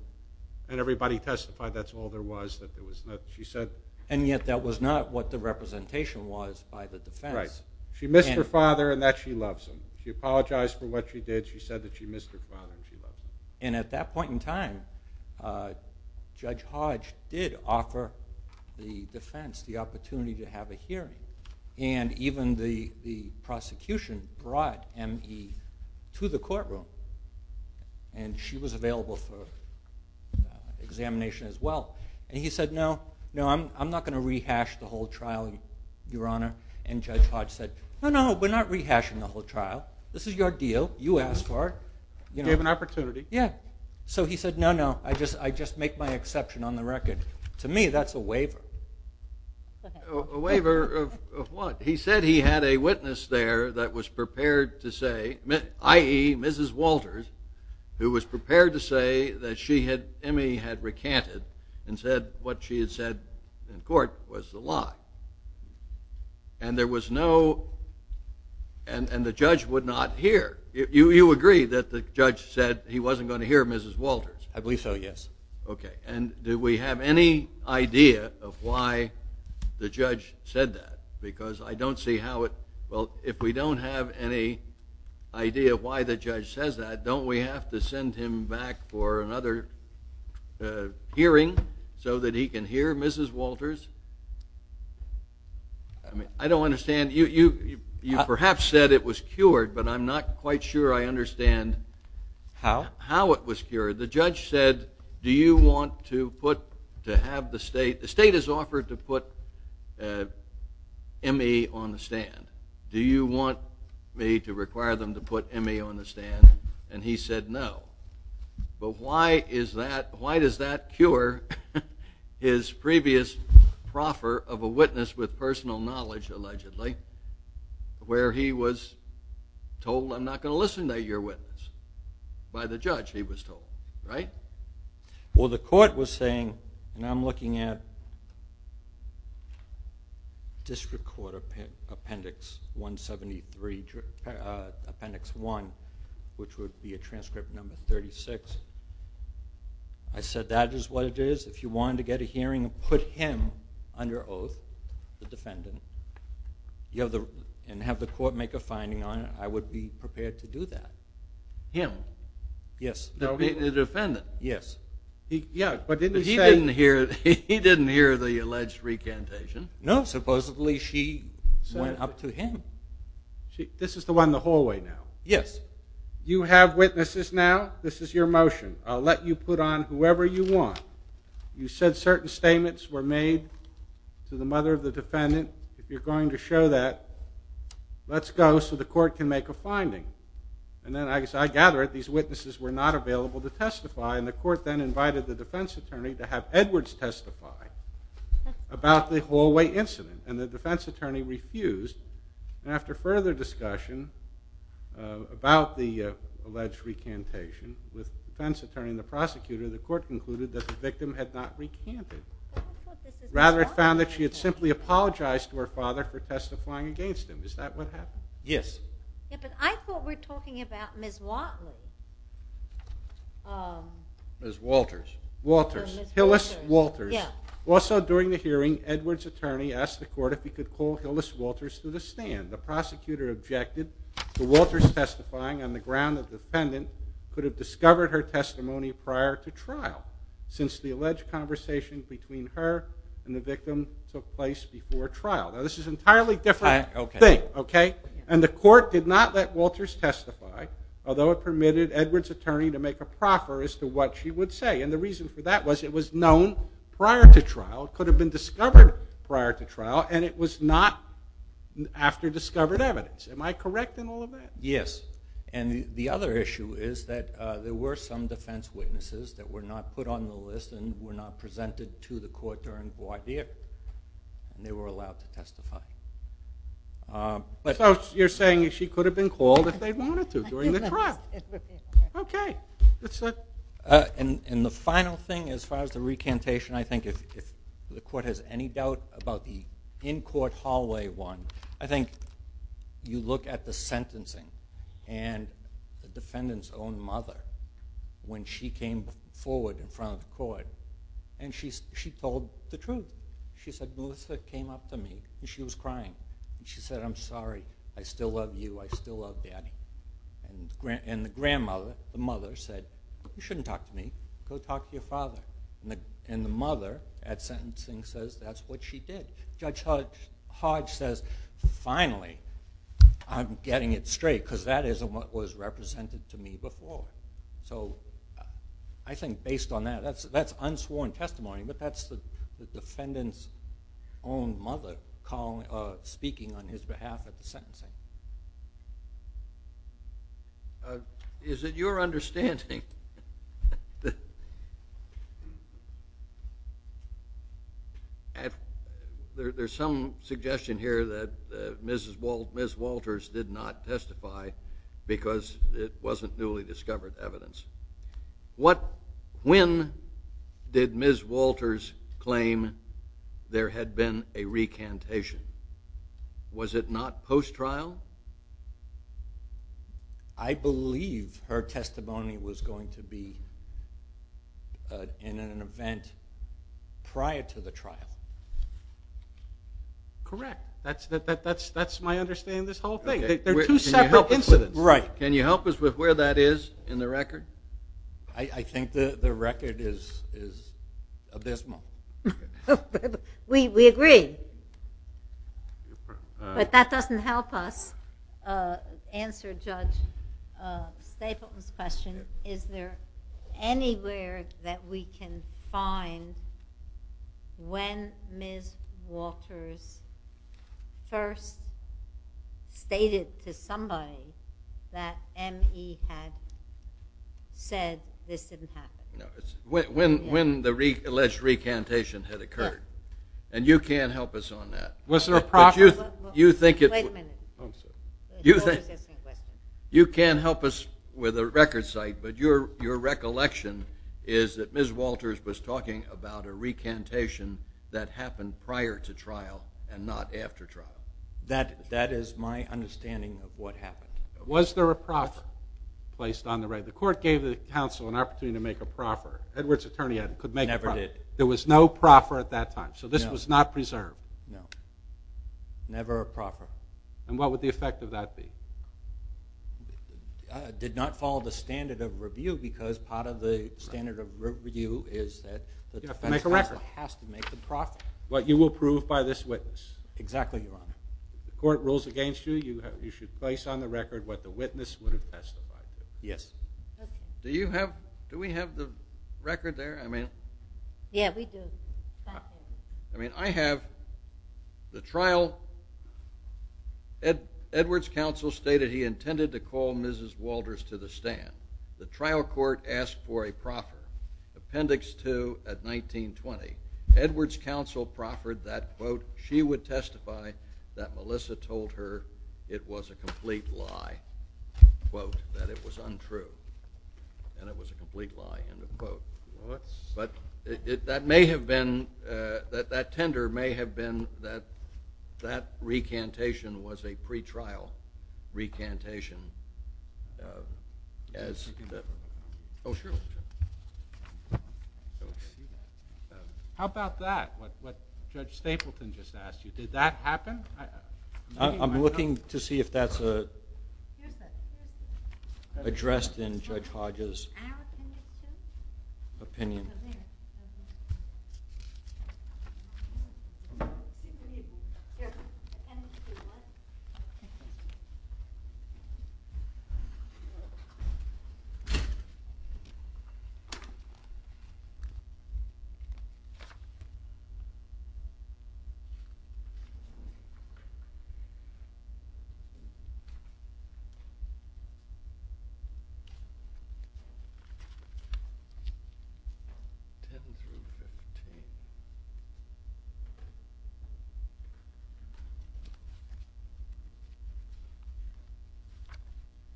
And everybody testified that's all there was, that there was nothing she said. And yet that was not what the representation was by the defense. She missed her father and that she loves him. She apologized for what she did. She said that she missed her father and she loves him. And at that point in time, Judge Hodge did offer the defense the opportunity to have a hearing. And even the prosecution brought Emmy to the courtroom. And she was available for examination as well. And he said, no, I'm not going to rehash the whole trial, Your Honor. And Judge Hodge said, no, no, we're not rehashing the whole trial. This is your deal. You asked for it. You have an opportunity. Yeah. So he said, no, no, I just make my exception on the record. To me, that's a waiver. A waiver of what? He said he had a witness there that was prepared to say, i.e., Mrs. Walters, who was prepared to say that Emmy had recanted and said what she had said in court was the lie. And there was no, and the judge would not hear. You agree that the judge said he wasn't going to hear Mrs. Walters? I believe so, yes. Okay. And do we have any idea of why the judge said that? Because I don't see how it, well, if we don't have any idea of why the judge says that, don't we have to send him back for another hearing so that he can hear Mrs. Walters? I don't understand. You perhaps said it was cured, but I'm not quite sure I understand how it was cured. The judge said, do you want to put, to have the state, the state has offered to put Emmy on the stand. Do you want me to require them to put Emmy on the stand? And he said no. But why is that, why does that cure his previous proffer of a witness with personal knowledge, allegedly, where he was told I'm not going to listen to your witness, by the judge he was told, right? Well, the court was saying, and I'm looking at District Court Appendix 173, District Appendix 1, which would be a transcript number 36. I said that is what it is. If you wanted to get a hearing and put him under oath, the defendant, and have the court make a finding on it, I would be prepared to do that. Him? Yes. The defendant? Yes. He didn't hear the alleged recantation. No. Supposedly she went up to him. See, this is the one in the hallway now. Yes. You have witnesses now. This is your motion. I'll let you put on whoever you want. You said certain statements were made to the mother of the defendant. If you're going to show that, let's go so the court can make a finding. And then, as I gather it, these witnesses were not available to testify, and the court then invited the defense attorney to have Edwards testify about the hallway incident. And the defense attorney refused. After further discussion about the alleged recantation with the defense attorney and the prosecutor, the court concluded that the victim had not recanted. Rather, it found that she had simply apologized to her father for testifying against him. Is that what happened? Yes. Yes, but I thought we're talking about Ms. Watley. Ms. Walters. Walters. Hillis Walters. Yes. Also during the hearing, Edwards' attorney asked the court if he could call Hillis Walters to the stand. The prosecutor objected to Walters testifying on the ground that the defendant could have discovered her testimony prior to trial since the alleged conversation between her and the victim took place before trial. Now, this is an entirely different thing, okay? And the court did not let Walters testify, although it permitted Edwards' attorney to make a proffer as to what she would say. And the reason for that was it was known prior to trial. It could have been discovered prior to trial, and it was not after discovered evidence. Am I correct in all of that? Yes. And the other issue is that there were some defense witnesses that were not put on the list and were not presented to the court during Hawaii. They were allowed to testify. So you're saying she could have been called if they wanted to during the trial. Yes. Okay. And the final thing as far as the recantation, I think if the court has any doubt about the in-court hallway one, I think you look at the sentencing and the defendant's own mother when she came forward in front of the court, and she told the truth. She said, Melissa came up to me, and she was crying. She said, I'm sorry. I still love you. I still love Daddy. And the grandmother, the mother, said, you shouldn't talk to me. Go talk to your father. And the mother at sentencing says that's what she did. Judge Hodge says, finally, I'm getting it straight because that isn't what was represented to me before. So I think based on that, that's unsworn testimony, but that's the defendant's own mother speaking on his behalf at the sentencing. Is it your understanding, there's some suggestion here that Ms. Walters did not testify because it wasn't newly discovered evidence. When did Ms. Walters claim there had been a recantation? Was it not post-trial? I believe her testimony was going to be in an event prior to the trial. Correct. That's my understanding of this whole thing. There are two separate incidents. Right. Can you help us with where that is in the record? I think the record is abysmal. We agree. But that doesn't help us answer Judge Stapleton's question. Is there anywhere that we can find when Ms. Walters first stated to somebody that M.E. had said this didn't happen? When the alleged recantation had occurred. And you can't help us on that. Wait a minute. You can't help us with a record site, but your recollection is that Ms. Walters was talking about a recantation that happened prior to trial and not after trial. That is my understanding of what happened. Was there a proffer placed on the record? The court gave the counsel an opportunity to make a proffer. Edward's attorney could make a proffer. Never did. There was no proffer at that time, so this was not preserved. No. Never a proffer. And what would the effect of that be? It did not follow the standard of review because part of the standard of review is that the defendant has to make a proffer. But you will prove by this witness. Exactly right. The court rules against you. You should place on the record what the witness would have testified. Yes. Do we have the record there? Yeah, we do. I mean, I have the trial. Edward's counsel stated he intended to call Mrs. Walters to the stand. The trial court asked for a proffer. Appendix 2 at 19-20. Edward's counsel proffered that, quote, she would testify that Melissa told her it was a complete lie, quote, that it was untrue and it was a complete lie, end of quote. What? But that tender may have been that that recantation was a pretrial recantation. How about that, what Judge Stapleton just asked you? Did that happen? I'm looking to see if that's addressed in Judge Hodges' opinion. Thank you.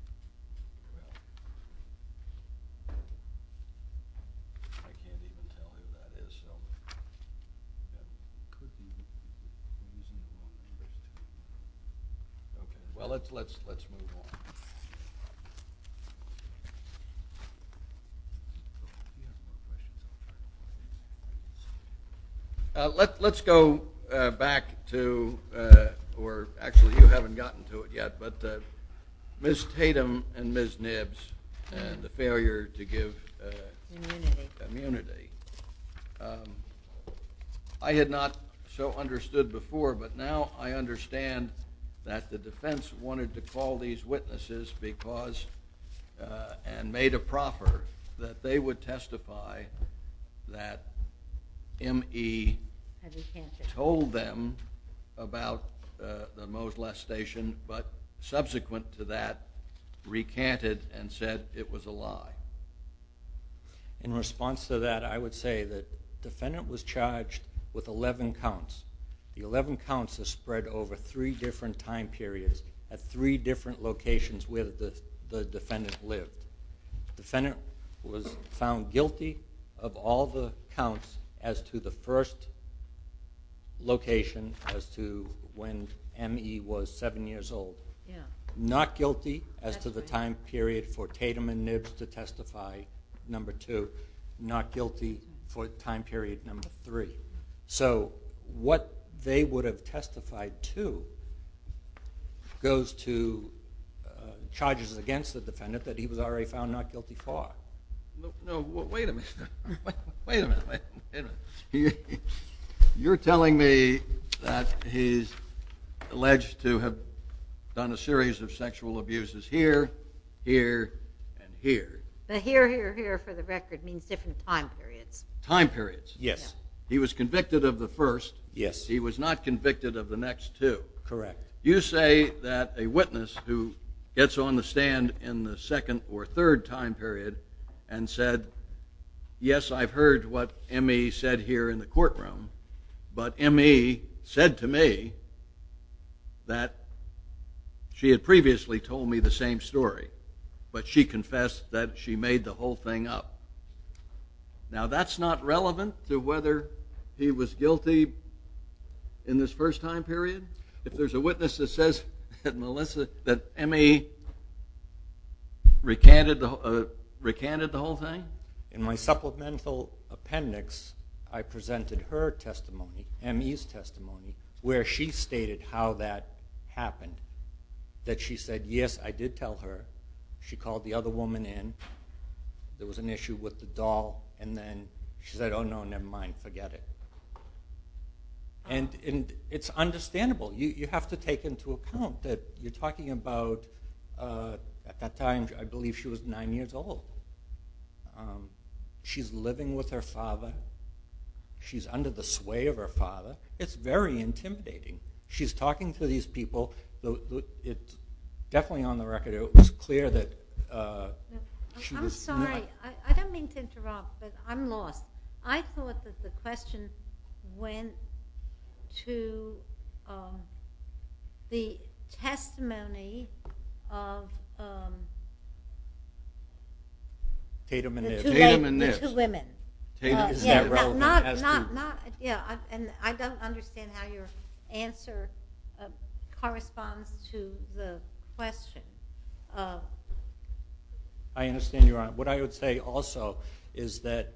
Well, let's move on. Let's go back to where actually you haven't gotten to it yet, but Ms. Tatum and Ms. Nibbs and the failure to give immunity. I had not so understood before, but now I understand that the defense wanted to call these witnesses because and made a proffer that they would testify that M.E. told them about the subsequent to that recanted and said it was a lie. In response to that, I would say the defendant was charged with 11 counts. The 11 counts were spread over three different time periods at three different locations where the defendant lived. The defendant was found guilty of all the counts as to the first location as to when M.E. was seven years old. Not guilty as to the time period for Tatum and Nibbs to testify, number two. Not guilty for time period number three. So what they would have testified to goes to charges against the defendant that he was already found not guilty for. Wait a minute. You're telling me that he's alleged to have done a series of sexual abuses here, here, and here. Here, here, here for the record means different time periods. Time periods, yes. He was convicted of the first. Yes. He was not convicted of the next two. Correct. You say that a witness who gets on the stand in the second or third time period and said, yes, I've heard what M.E. said here in the courtroom, but M.E. said to me that she had previously told me the same story, but she confessed that she made the whole thing up. Now, that's not relevant to whether he was guilty in this first time period. If there's a witness that says that M.E. recanted the whole thing? In my supplemental appendix, I presented her testimony, M.E.'s testimony, where she stated how that happened, that she said, yes, I did tell her. She called the other woman in. There was an issue with the doll, and then she said, oh, no, never mind, forget it. And it's understandable. You have to take into account that you're talking about, at that time, I believe she was nine years old. She's living with her father. She's under the sway of her father. It's very intimidating. She's talking to these people. It's definitely on the record. It was clear that she was not. I'm sorry. I don't mean to interrupt, but I'm lost. I thought that the question went to the testimony of the two women. I don't understand how your answer corresponds to the question. I understand you're on. What I would say, also, is that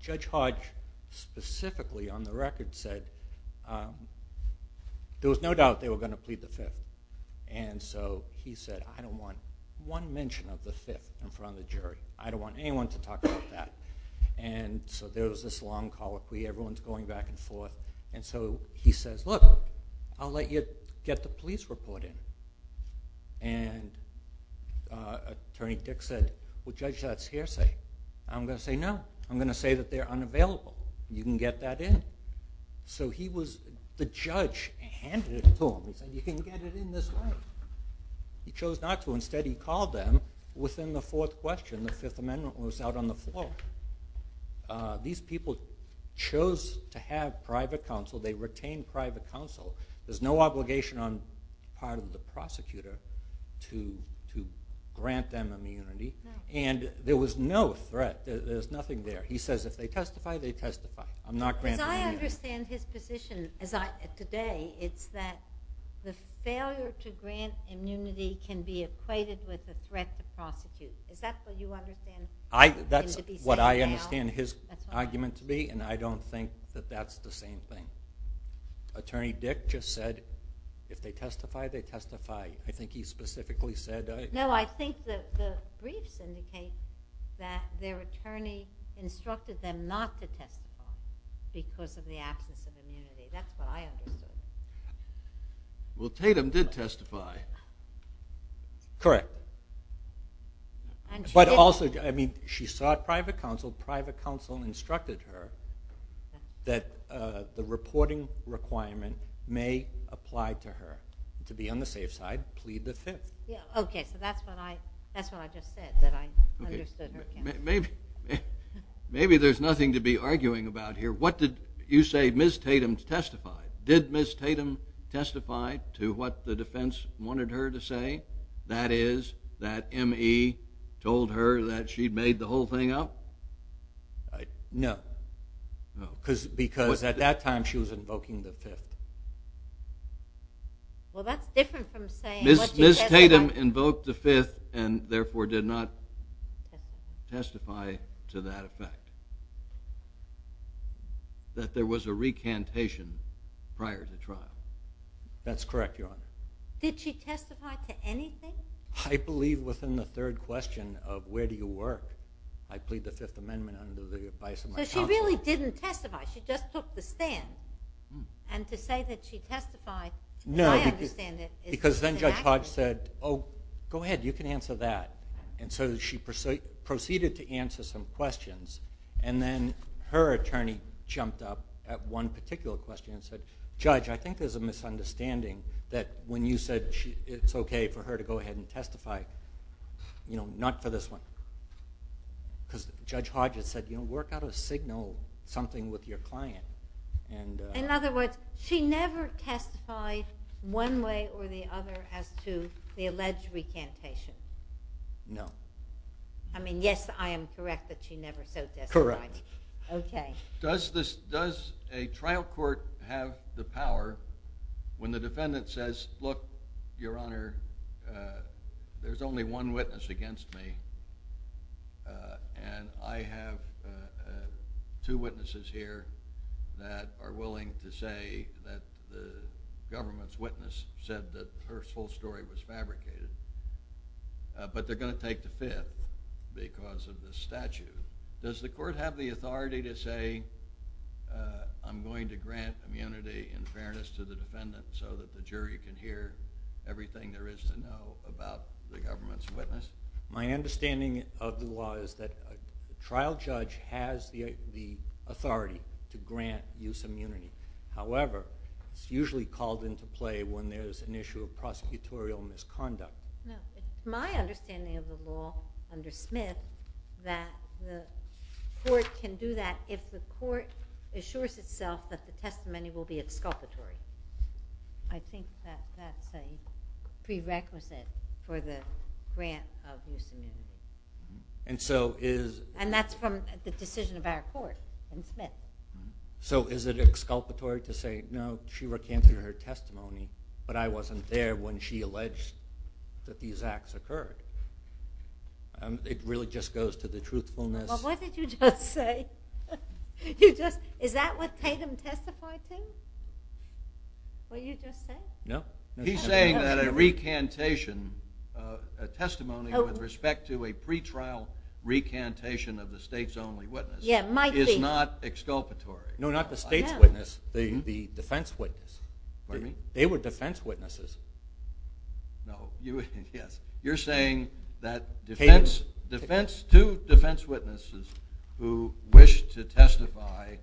Judge Hodge, specifically, on the record, said there was no doubt they were going to plead the Fifth. And so he said, I don't want one mention of the Fifth in front of the jury. I don't want anyone to talk about that. And so there was this long call of plea. Everyone's going back and forth. And so he says, look, I'll let you get the police reporting. And Attorney Dick said, well, Judge, that's hearsay. I'm going to say no. I'm going to say that they're unavailable. You can get that in. So the judge handed it to him. You can get it in this way. He chose not to. Instead, he called them within the fourth question. The Fifth Amendment was out on the floor. These people chose to have private counsel. They retained private counsel. There's no obligation on the part of the prosecutor to grant them immunity. And there was no threat. There's nothing there. He says, if they testify, they testify. I'm not granting immunity. But I understand his position today. It's that the failure to grant immunity can be equated with the threat to prosecute. Is that what you understand? That's what I understand his argument to be. And I don't think that that's the same thing. Attorney Dick just said, if they testify, they testify. I think he specifically said that. No, I think the briefs indicate that their attorney instructed them not to testify because of the absence of immunity. That's what I understand. Well, Tatum did testify. Correct. But also, I mean, she sought private counsel. Private counsel instructed her that the reporting requirement may apply to her to be on the safe side and plead the case. Okay, so that's what I just said that I understood. Maybe there's nothing to be arguing about here. What did you say Ms. Tatum testified? Did Ms. Tatum testify to what the defense wanted her to say, that is, that M.E. told her that she'd made the whole thing up? No. Because at that time she was invoking the Fifth. Well, that's different from saying what the judge said. Ms. Tatum invoked the Fifth and therefore did not testify to that effect, that there was a recantation prior to trial. That's correct, Your Honor. Did she testify to anything? I believe within the third question of where do you work, I plead the Fifth Amendment under the advice of my counsel. But she really didn't testify. She just took the stand. And to say that she testified, I understand it is a reaction. Because then Judge Hodge said, oh, go ahead, you can answer that. And so she proceeded to answer some questions, and then her attorney jumped up at one particular question and said, Judge, I think there's a misunderstanding that when you said it's okay for her to go ahead and testify, you know, not for this one. Because Judge Hodge had said, you know, work out a signal, something with your client. In other words, she never testified one way or the other as to the alleged recantation? No. I mean, yes, I am correct that she never said that. Correct. Okay. Does a trial court have the power when the defendant says, look, Your Honor, there's only one witness against me, and I have two witnesses here that are willing to say that the government's witness said that her whole story was fabricated, but they're going to take the Fifth because of the statute. Does the court have the authority to say I'm going to grant immunity in fairness to the defendant so that the jury can hear everything there is to know about the government's witness? My understanding of the law is that a trial judge has the authority to grant youth immunity. However, it's usually called into play when there's an issue of prosecutorial misconduct. It's my understanding of the law under Smith that the court can do that if the court assures itself that the testimony will be exculpatory. I think that's a prerequisite for the grant of youth immunity. And that's from the decision of our court in Smith. So is it exculpatory to say, you know, she recanted her testimony, but I wasn't there when she alleged that these acts occurred? It really just goes to the truthfulness. Well, what did you just say? Is that what Payton testified to? What you just said? No. He's saying that a recantation, a testimony with respect to a pretrial recantation of the state's only witness is not exculpatory. No, not the state's witness. The defense witness. What do you mean? They were defense witnesses. No, you're saying that two defense witnesses who wished to testify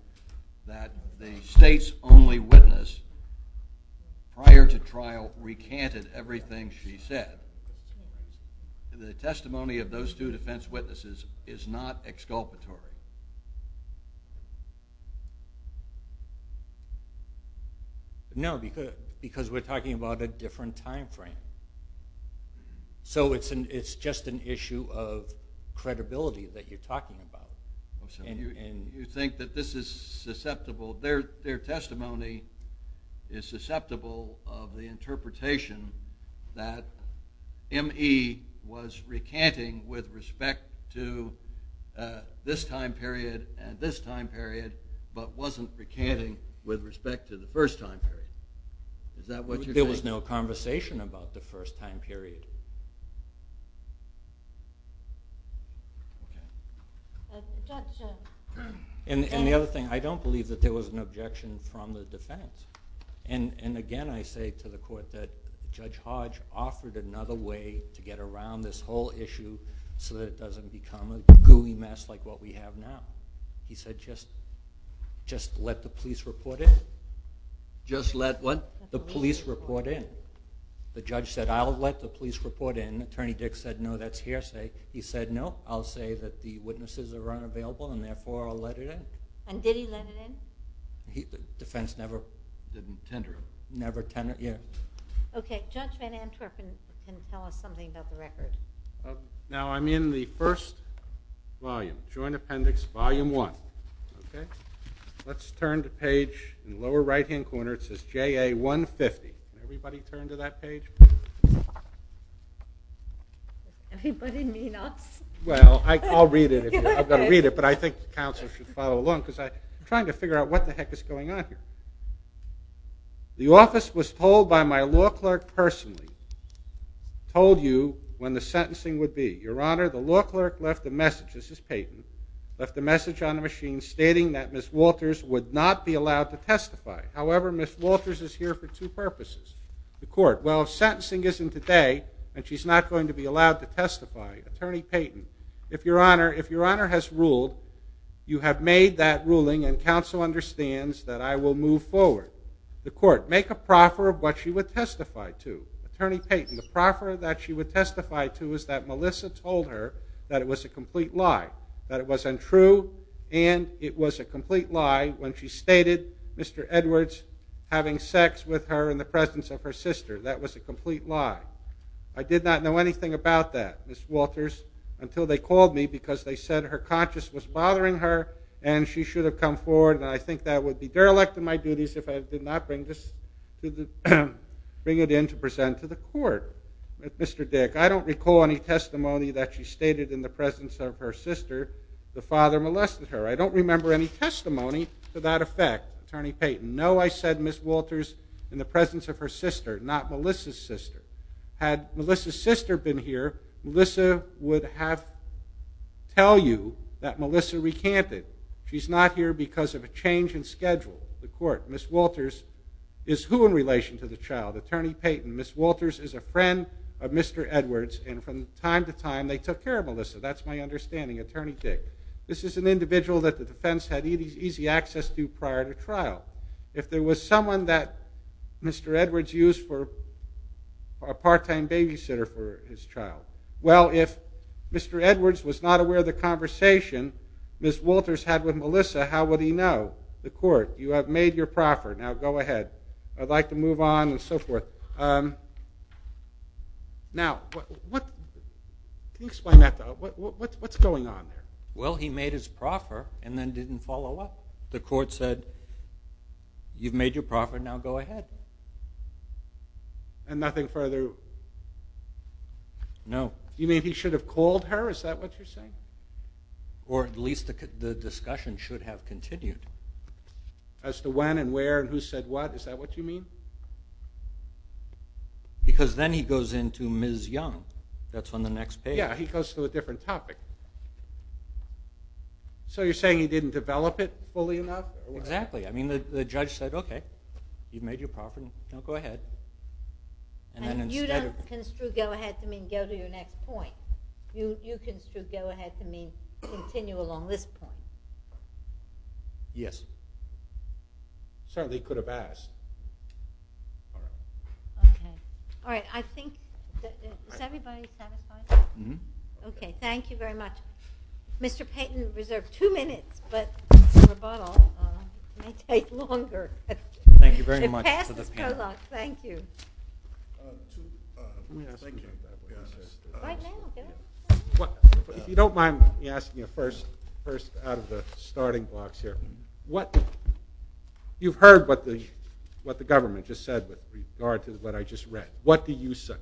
that the state's only witness prior to trial recanted everything she said, the testimony of those two defense witnesses is not exculpatory. No, because we're talking about a different time frame. So it's just an issue of credibility that you're talking about. And you think that this is susceptible. Their testimony is susceptible of the interpretation that M.E. was recanting with respect to this time period and this time period, but wasn't recanting with respect to the first time period. Is that what you're saying? There was no conversation about the first time period. And the other thing, I don't believe that there was an objection from the defense. And, again, I say to the Court that Judge Hodge offered another way to get around this whole issue so that it doesn't become a gooey mess like what we have now. He said, just let the police report in. Just let what? The police report in. The judge said, I'll let the police report in. Attorney Dick said, no, that's hearsay. He said, no, I'll say that the witnesses are unavailable and, therefore, I'll let it in. And did he let it in? The defense never tendered it. Okay, Judge Van Antwerp can tell us something about the record. Now, I'm in the first volume, Joint Appendix Volume 1. Let's turn to page, lower right-hand corner, it says JA 150. Can anybody turn to that page? Anybody need help? Well, I'll read it. I've got to read it, but I think the counsel should follow along because I'm trying to figure out what the heck is going on here. The office was told by my law clerk personally, told you when the sentencing would be. Your Honor, the law clerk left a message, this is Payton, left a message on the machine stating that Ms. Walters would not be allowed to testify. However, Ms. Walters is here for two purposes, the court. Well, sentencing isn't today, and she's not going to be allowed to testify. Attorney Payton, if Your Honor has ruled, you have made that ruling, and counsel understands that I will move forward. The court, make a proffer of what she would testify to. Attorney Payton, the proffer that she would testify to is that Melissa told her that it was a complete lie, that it was untrue, and it was a complete lie when she stated Mr. Edwards having sex with her in the presence of her sister. That was a complete lie. I did not know anything about that, Ms. Walters, until they called me because they said her conscience was bothering her and she should have come forward, and I think that would be derelict of my duties if I did not bring it in to present to the court. Mr. Dick, I don't recall any testimony that she stated in the presence of her sister, the father molested her. I don't remember any testimony to that effect. Attorney Payton, no, I said Ms. Walters in the presence of her sister, not Melissa's sister. Had Melissa's sister been here, Melissa would have told you that Melissa recanted. She's not here because of a change in schedule at the court. Ms. Walters is who in relation to the child? Attorney Payton, Ms. Walters is a friend of Mr. Edwards, and from time to time they took care of Melissa. That's my understanding. Attorney Dick, this is an individual that the defense had easy access to prior to trial. If there was someone that Mr. Edwards used for a part-time babysitter for his child, well, if Mr. Edwards was not aware of the conversation Ms. Walters had with Melissa, how would he know? The court, you have made your proffer. Now go ahead. I'd like to move on and so forth. Now, can you explain that? What's going on here? Well, he made his proffer and then didn't follow up. The court said, you've made your proffer, now go ahead. And nothing further? No. You mean he should have called her? Is that what you're saying? Or at least the discussion should have continued. As to when and where and who said what? Is that what you mean? Because then he goes into Ms. Young. That's on the next page. Yeah, he goes to a different topic. So you're saying he didn't develop it fully enough? Exactly. I mean, the judge said, okay, you've made your proffer, now go ahead. And you don't construe go ahead to mean go to your next point. You construe go ahead to mean continue along this point. Yes. Certainly could have asked. Okay. All right. I think is everybody satisfied? Mm-hmm. Okay. Thank you very much. Mr. Payton is reserved two minutes, but on a bottle it may take longer. Thank you very much. Thank you. If you don't mind me asking you first out of the starting box here, you've heard what the government just said with regard to what I just read. What do you say?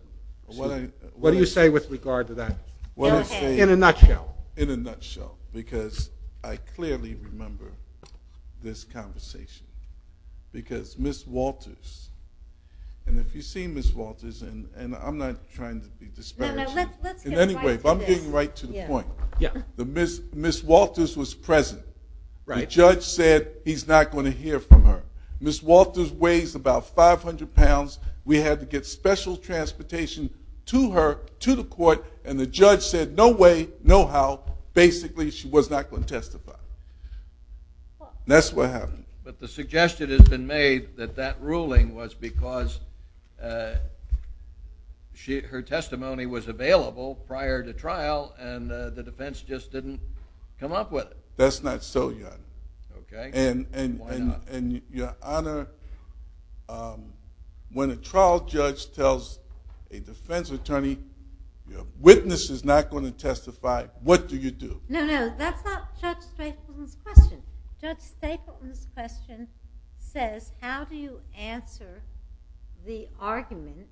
What do you say with regard to that? In a nutshell. In a nutshell. Because I clearly remember this conversation. Because Ms. Walters, and if you've seen Ms. Walters, and I'm not trying to be disparaging. Anyway, if I'm getting right to the point. Ms. Walters was present. The judge said he's not going to hear from her. Ms. Walters weighs about 500 pounds. We had to get special transportation to her to the court, and the judge said no way, no how. Basically, she was not going to testify. That's what happened. But the suggestion has been made that that ruling was because her testimony was available prior to trial, and the defense just didn't come up with it. That's not so, Your Honor. Okay. And, Your Honor, when a trial judge tells a defense attorney, your witness is not going to testify, what do you do? No, no, that's not Judge Stapleton's question. Judge Stapleton's question says, how do you answer the argument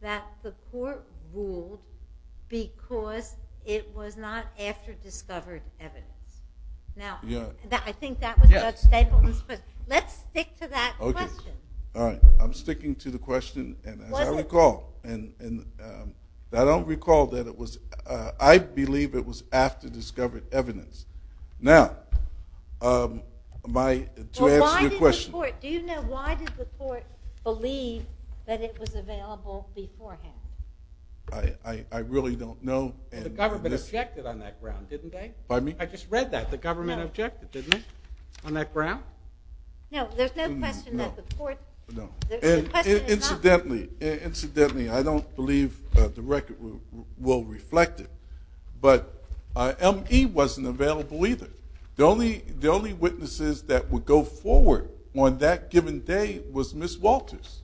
that the court ruled because it was not after discovered evidence? Now, I think that was Judge Stapleton's question. Let's stick to that question. All right. I'm sticking to the question, and as I recall, I don't recall that it was – I believe it was after discovered evidence. Now, to answer your question. Do you know why did the court believe that it was available beforehand? I really don't know. The government objected on that ground, didn't they? Pardon me? I just read that. The government objected, didn't it, on that ground? No, there's no question that the court – Incidentally, I don't believe the record will reflect it, but M.E. wasn't available either. The only witnesses that would go forward on that given day was Ms. Walters.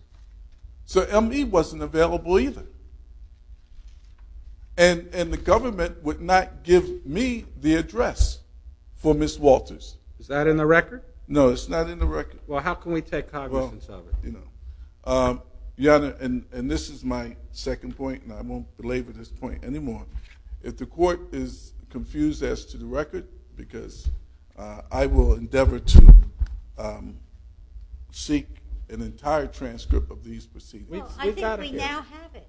So M.E. wasn't available either, and the government would not give me the address for Ms. Walters. Is that in the record? No, it's not in the record. Well, how can we take cognizance of it? Yeah, and this is my second point, and I won't belabor this point anymore. If the court is confused as to the record, because I will endeavor to seek an entire transcript of these proceedings. I think we now have it.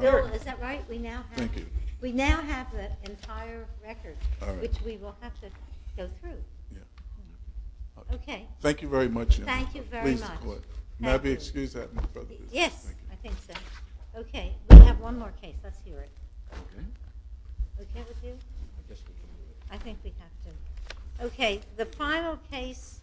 Bill, is that right? Thank you. We now have the entire record, which we will have to go through. Okay. Thank you very much. Thank you very much. May I be excused? Yes, I think so. Okay. We have one more case. Let's do it. Okay. Okay with you? Yes. I think we have to. Okay. The final case.